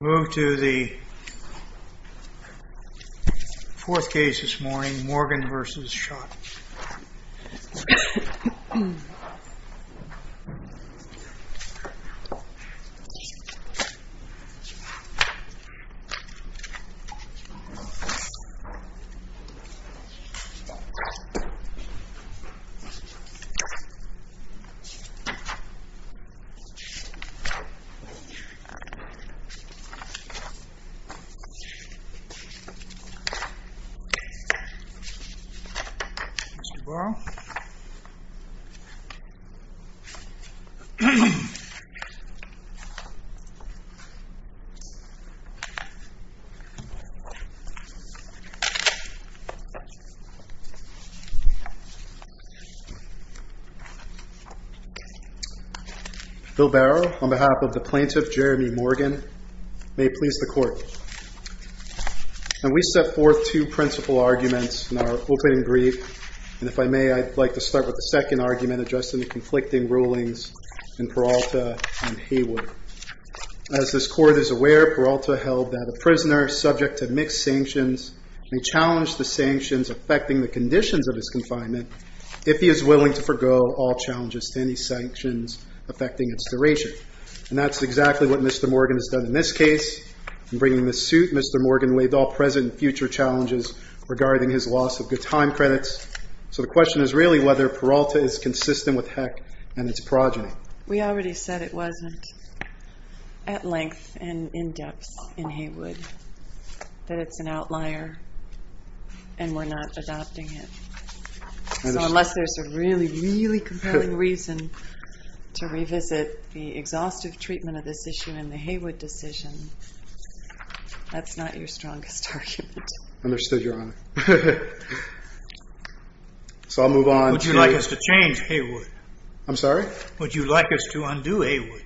We move to the fourth case this morning, Morgan v. Schott. Bill Barrow on behalf of the plaintiff, Jeryme Morgan. May it please the court. Now we set forth two principal arguments in our opening brief. And if I may, I'd like to start with the second argument addressing the conflicting rulings in Peralta and Hayward. As this court is aware, Peralta held that a prisoner subject to mixed sanctions may challenge the sanctions affecting the conditions of his confinement if he is willing to forego all challenges to any sanctions affecting its duration. And that's exactly what Mr. Morgan has done in this case. In bringing this suit, Mr. Morgan waived all present and future challenges regarding his loss of good time credits. So the question is really whether Peralta is consistent with Heck and its progeny. We already said it wasn't at length and in depth in Hayward that it's an outlier and we're not adopting it. So unless there's a really, really compelling reason to revisit the exhaustive treatment of this issue in the Hayward decision, that's not your strongest argument. Understood, Your Honor. Would you like us to change Hayward? I'm sorry? Would you like us to undo Hayward?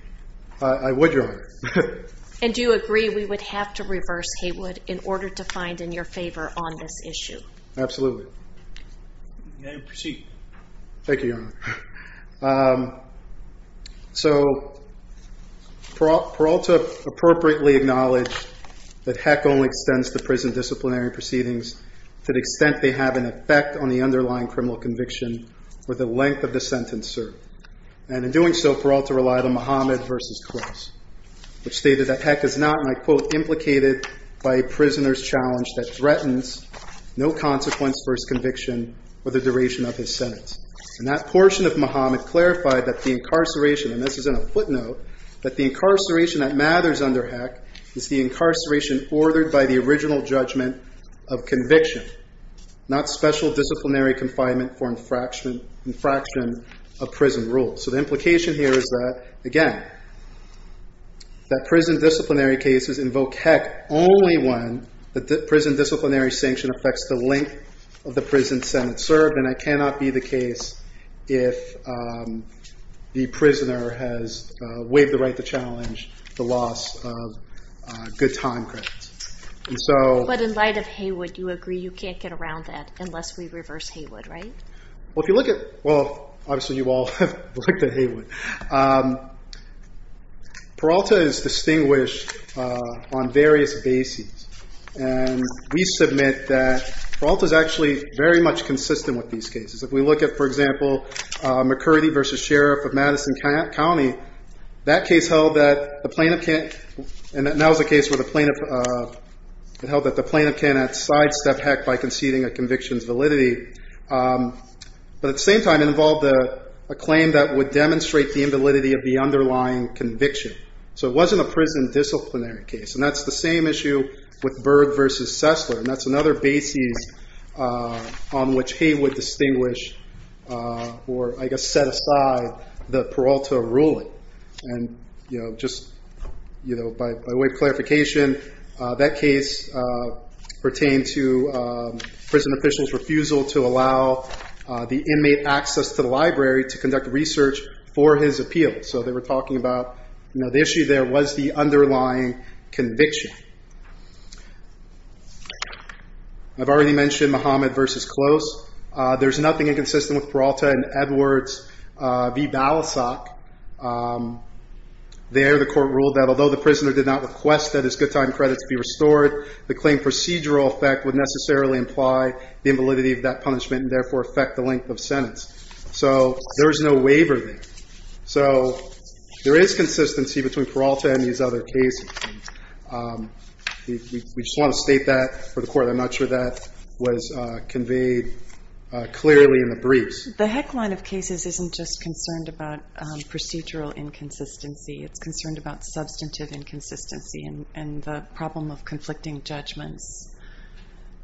I would, Your Honor. And do you agree we would have to reverse Hayward in order to find in your favor on this issue? Absolutely. You may proceed. Thank you, Your Honor. So Peralta appropriately acknowledged that Heck only extends the prison disciplinary proceedings to the extent they have an effect on the underlying criminal conviction or the length of the sentence served. And in doing so, Peralta relied on Mohammed v. Cross, which stated that Heck is not, and I quote, implicated by a prisoner's challenge that threatens no consequence for his conviction or the duration of his sentence. And that portion of Mohammed clarified that the incarceration, and this is in a footnote, that the incarceration that matters under Heck is the incarceration ordered by the original judgment of conviction, not special disciplinary confinement for infraction of prison rules. So the implication here is that, again, that prison disciplinary cases invoke Heck only when the prison disciplinary sanction affects the length of the prison sentence served. And that cannot be the case if the prisoner has waived the right to challenge the loss of good time credits. But in light of Hayward, you agree you can't get around that unless we reverse Hayward, right? Well, if you look at, well, obviously you all have looked at Hayward, Peralta is distinguished on various bases. And we submit that Peralta is actually very much consistent with these cases. If we look at, for example, McCurdy v. Sheriff of Madison County, that case held that the plaintiff can't, and that now is the case where the plaintiff, it held that the plaintiff cannot sidestep Heck by conceding a conviction's validity. But at the same time, it involved a claim that would demonstrate the invalidity of the underlying conviction. So it wasn't a prison disciplinary case. And that's the same issue with Byrd v. Sessler. And that's another basis on which Hayward distinguished or, I guess, set aside the Peralta ruling. And just by way of clarification, that case pertained to prison officials' refusal to allow the inmate access to the library to conduct research for his appeal. So they were talking about the issue there was the underlying conviction. I've already mentioned Muhammad v. Close. There's nothing inconsistent with Peralta and Edwards v. Balasag. There the court ruled that although the prisoner did not request that his good time credits be restored, the claim procedural effect would necessarily imply the invalidity of that punishment and therefore affect the length of sentence. So there is no waiver there. So there is consistency between Peralta and these other cases. We just want to state that for the court. I'm not sure that was conveyed clearly in the briefs. The heck line of cases isn't just concerned about procedural inconsistency. It's concerned about substantive inconsistency and the problem of conflicting judgments.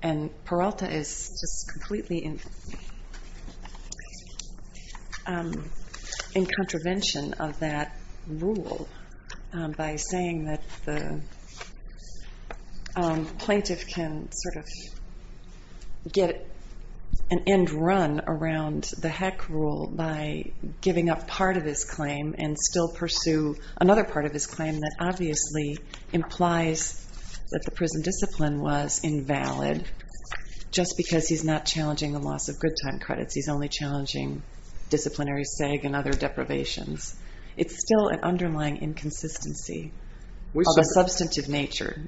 And Peralta is just completely in contravention of that rule by saying that the plaintiff can sort of get an end run around the heck rule by giving up part of his claim and still pursue another part of his claim that obviously implies that the prison discipline was invalid just because he's not challenging the loss of good time credits. He's only challenging disciplinary seg and other deprivations. It's still an underlying inconsistency of a substantive nature.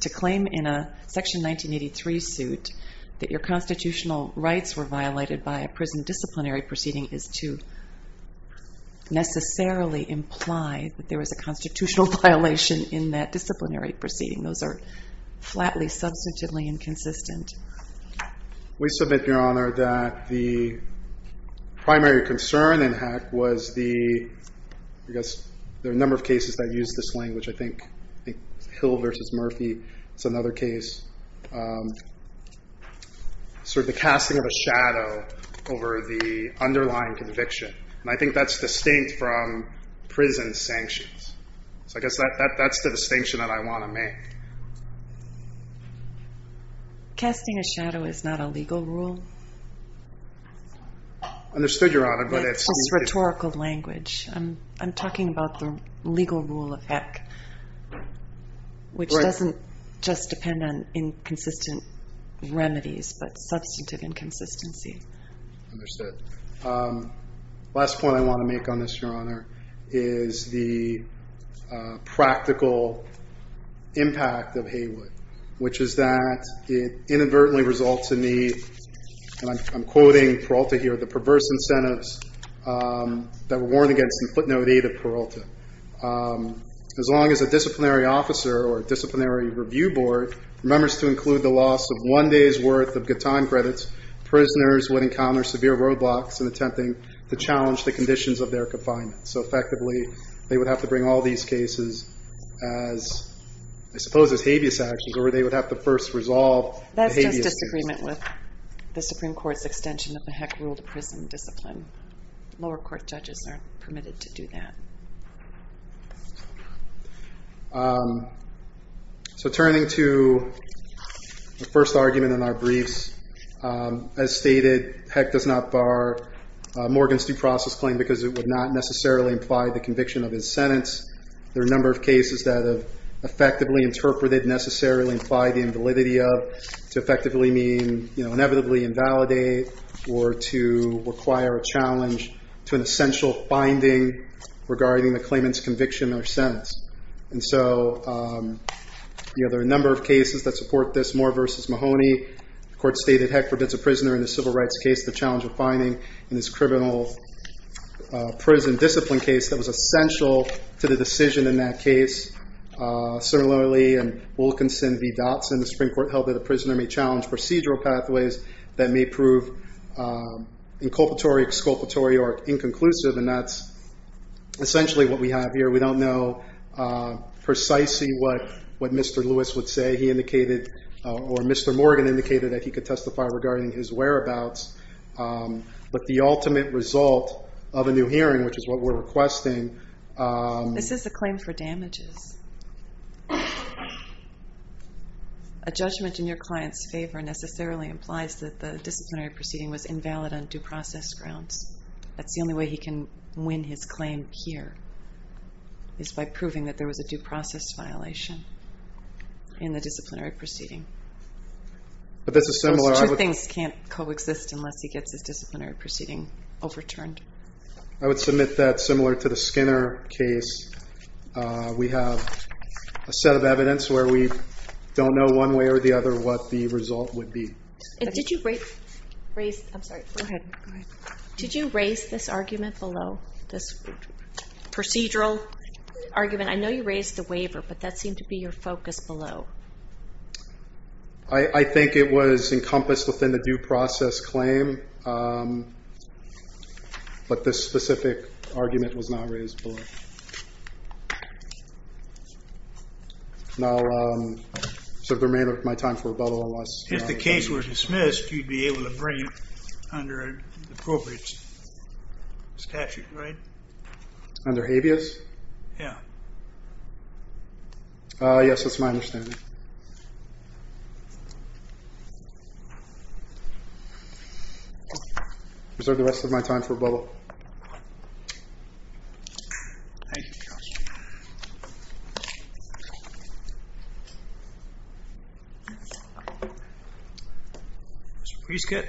To claim in a section 1983 suit that your constitutional rights were violated by a prison disciplinary proceeding is to necessarily imply that there was a constitutional violation in that disciplinary proceeding. Those are flatly substantively inconsistent. We submit, Your Honor, that the primary concern in Heck was the number of cases that use this language. I think Hill v. Murphy is another case. Sort of the casting of a shadow over the underlying conviction. And I think that's distinct from prison sanctions. So I guess that's the distinction that I want to make. Casting a shadow is not a legal rule. Understood, Your Honor. That's just rhetorical language. I'm talking about the legal rule of Heck. Which doesn't just depend on inconsistent remedies, but substantive inconsistency. Understood. Last point I want to make on this, Your Honor, is the practical impact of Heywood. Which is that it inadvertently results in the, and I'm quoting Peralta here, the perverse incentives that were worn against the footnote 8 of Peralta. As long as a disciplinary officer or disciplinary review board remembers to include the loss of one day's worth of good time credits, prisoners would encounter severe roadblocks in attempting to challenge the conditions of their confinement. So effectively, they would have to bring all these cases as, I suppose, as habeas actions, or they would have to first resolve the habeas case. That's just disagreement with the Supreme Court's extension of the Heck rule to prison discipline. Lower court judges aren't permitted to do that. So turning to the first argument in our briefs. As stated, Heck does not bar Morgan's due process claim because it would not necessarily imply the conviction of his sentence. There are a number of cases that have effectively interpreted necessarily imply the invalidity of, to effectively mean inevitably invalidate, or to require a challenge to an essential finding regarding the claimant's conviction or sentence. And so there are a number of cases that support this. Moore v. Mahoney. The court stated Heck prevents a prisoner in a civil rights case the challenge of finding in this criminal prison discipline case that was essential to the decision in that case. Similarly, in Wilkinson v. Dotson, the Supreme Court held that a prisoner may challenge procedural pathways that may prove inculpatory, exculpatory, or inconclusive. And that's essentially what we have here. We don't know precisely what Mr. Lewis would say. He indicated, or Mr. Morgan indicated, that he could testify regarding his whereabouts. But the ultimate result of a new hearing, which is what we're requesting. This is a claim for damages. A judgment in your client's favor necessarily implies that the disciplinary proceeding was invalid on due process grounds. That's the only way he can win his claim here, is by proving that there was a due process violation in the disciplinary proceeding. Two things can't coexist unless he gets his disciplinary proceeding overturned. I would submit that, similar to the Skinner case, we have a set of evidence where we don't know one way or the other what the result would be. Did you raise this argument below, this procedural argument? I know you raised the waiver, but that seemed to be your focus below. I think it was encompassed within the due process claim. But this specific argument was not raised below. I'll sort of remain with my time for rebuttal. If the case were dismissed, you'd be able to bring it under an appropriate statute, right? Under habeas? Yeah. Yes, that's my understanding. I'll reserve the rest of my time for rebuttal. Thank you, Judge. Mr. Prescott.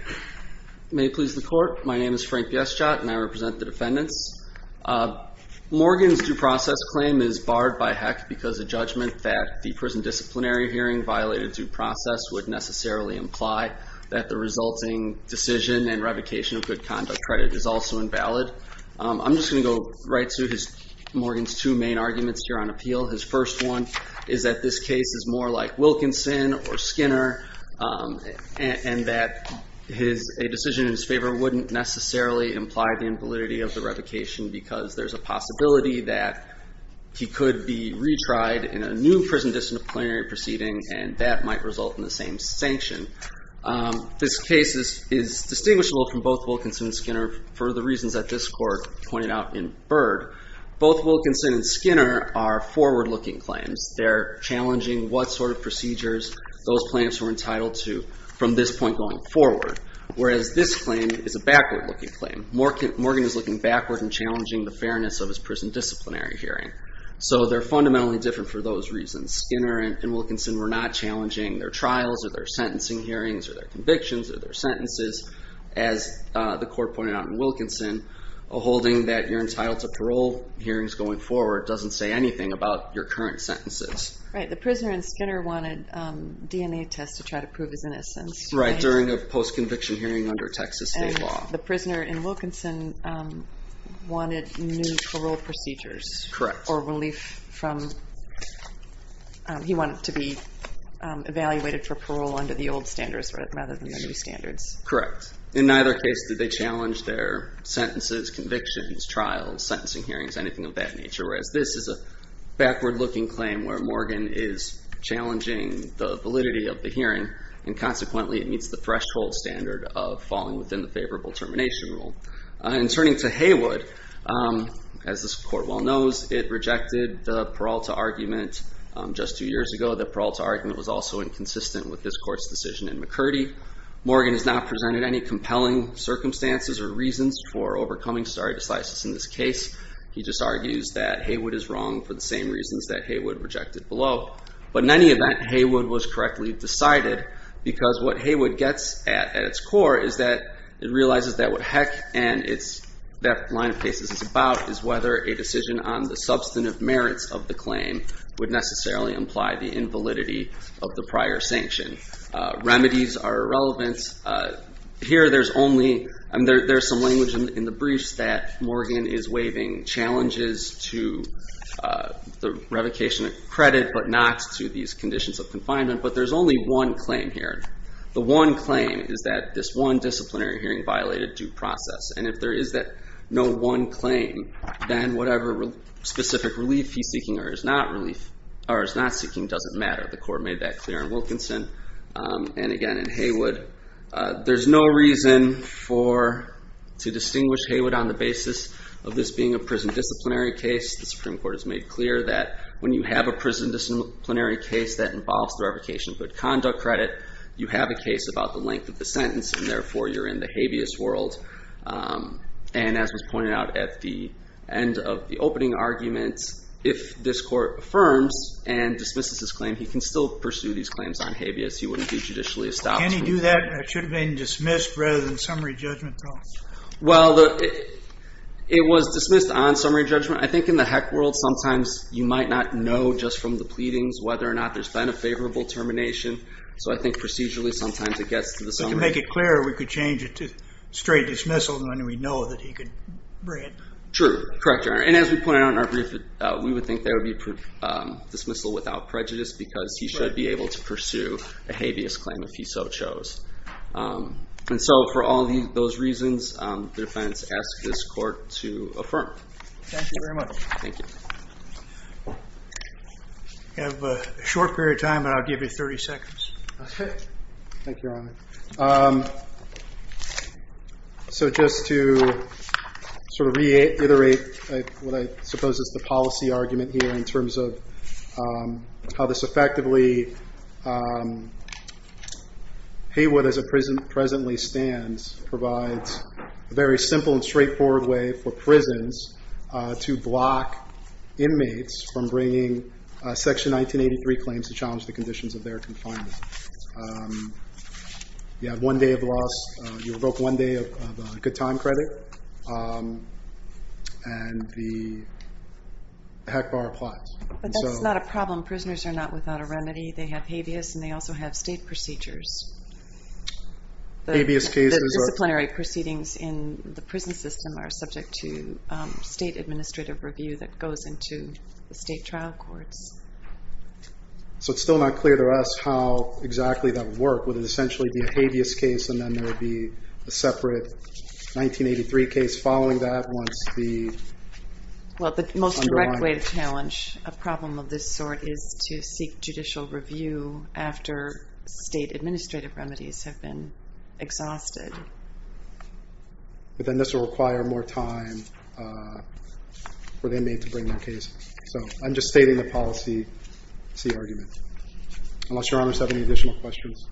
May it please the Court. My name is Frank Yeschott, and I represent the defendants. Morgan's due process claim is barred by HEC because the judgment that the prison disciplinary hearing violated due process would necessarily imply that the resulting decision and revocation of good conduct credit is also invalid. I'm just going to go right through Morgan's two main arguments here on appeal. His first one is that this case is more like Wilkinson or Skinner, and that a decision in his favor wouldn't necessarily imply the invalidity of the revocation because there's a possibility that he could be retried in a new prison disciplinary proceeding, and that might result in the same sanction. This case is distinguishable from both Wilkinson and Skinner for the reasons that this Court pointed out in Byrd. Both Wilkinson and Skinner are forward-looking claims. They're challenging what sort of procedures those plaintiffs were entitled to from this point going forward, whereas this claim is a backward-looking claim. Morgan is looking backward and challenging the fairness of his prison disciplinary hearing. So they're fundamentally different for those reasons. Skinner and Wilkinson were not challenging their trials or their sentencing hearings or their convictions or their sentences. As the Court pointed out in Wilkinson, holding that you're entitled to parole hearings going forward doesn't say anything about your current sentences. Right, the prisoner in Skinner wanted DNA tests to try to prove his innocence. Right, during a post-conviction hearing under Texas state law. The prisoner in Wilkinson wanted new parole procedures. Correct. Or relief from, he wanted to be evaluated for parole under the old standards rather than the new standards. Correct. In neither case did they challenge their sentences, convictions, trials, sentencing hearings, anything of that nature, whereas this is a backward-looking claim where Morgan is challenging the validity of the hearing, and consequently it meets the threshold standard of falling within the favorable termination rule. And turning to Haywood, as this Court well knows, it rejected the parole to argument just two years ago. The parole to argument was also inconsistent with this Court's decision in McCurdy. Morgan has not presented any compelling circumstances or reasons for overcoming stare decisis in this case. He just argues that Haywood is wrong for the same reasons that Haywood rejected below. But in any event, Haywood was correctly decided because what Haywood gets at at its core is that it realizes that what heck and that line of cases is about is whether a decision on the substantive merits of the claim would necessarily imply the invalidity of the prior sanction. Remedies are irrelevant. Here there's only, there's some language in the briefs that Morgan is waiving challenges to the revocation of credit, but not to these conditions of confinement. But there's only one claim here. The one claim is that this one disciplinary hearing violated due process. And if there is no one claim, then whatever specific relief he's seeking or is not seeking doesn't matter. The Court made that clear in Wilkinson and again in Haywood. There's no reason to distinguish Haywood on the basis of this being a prison disciplinary case. The Supreme Court has made clear that when you have a prison disciplinary case that involves the revocation of good conduct credit, you have a case about the length of the sentence and therefore you're in the habeas world. And as was pointed out at the end of the opening argument, if this Court affirms and dismisses this claim, he can still pursue these claims on habeas. He wouldn't be judicially established. Can he do that? It should have been dismissed rather than summary judgment. Well, it was dismissed on summary judgment. I think in the heck world sometimes you might not know just from the pleadings whether or not there's been a favorable termination. So I think procedurally sometimes it gets to the summary. But to make it clearer, we could change it to straight dismissal and then we'd know that he could bring it. True. Correct, Your Honor. And as we pointed out in our brief, we would think that would be dismissal without prejudice because he should be able to pursue a habeas claim if he so chose. And so for all those reasons, the defense asks this Court to affirm. Thank you very much. Thank you. We have a short period of time, but I'll give you 30 seconds. Okay. Thank you, Your Honor. So just to sort of reiterate what I suppose is the policy argument here in terms of how this effectively, Haywood as it presently stands provides a very simple and straightforward way for prisons to block inmates from bringing Section 1983 claims to challenge the conditions of their confinement. You have one day of loss. You revoke one day of good time credit. And the heck bar applies. But that's not a problem. Prisoners are not without a remedy. They have habeas and they also have state procedures. The disciplinary proceedings in the prison system are subject to state administrative review that goes into the state trial courts. So it's still not clear to us how exactly that would work. Would it essentially be a habeas case and then there would be a separate 1983 case following that once the Well, the most direct way to challenge a problem of this sort is to seek judicial review after state administrative remedies have been exhausted. But then this will require more time for the inmate to bring their case. So I'm just stating the policy argument. Unless Your Honor has any additional questions.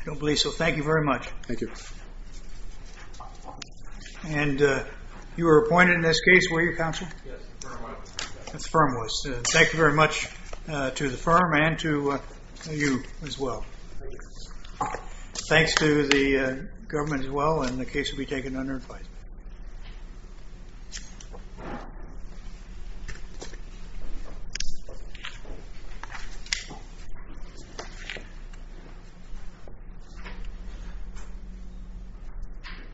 I don't believe so. Thank you very much. Thank you. And you were appointed in this case, were you counsel? Yes, the firm was. The firm was. Thank you very much to the firm and to you as well. Thank you. Thanks to the government as well. And the case will be taken under advisement. Thank you.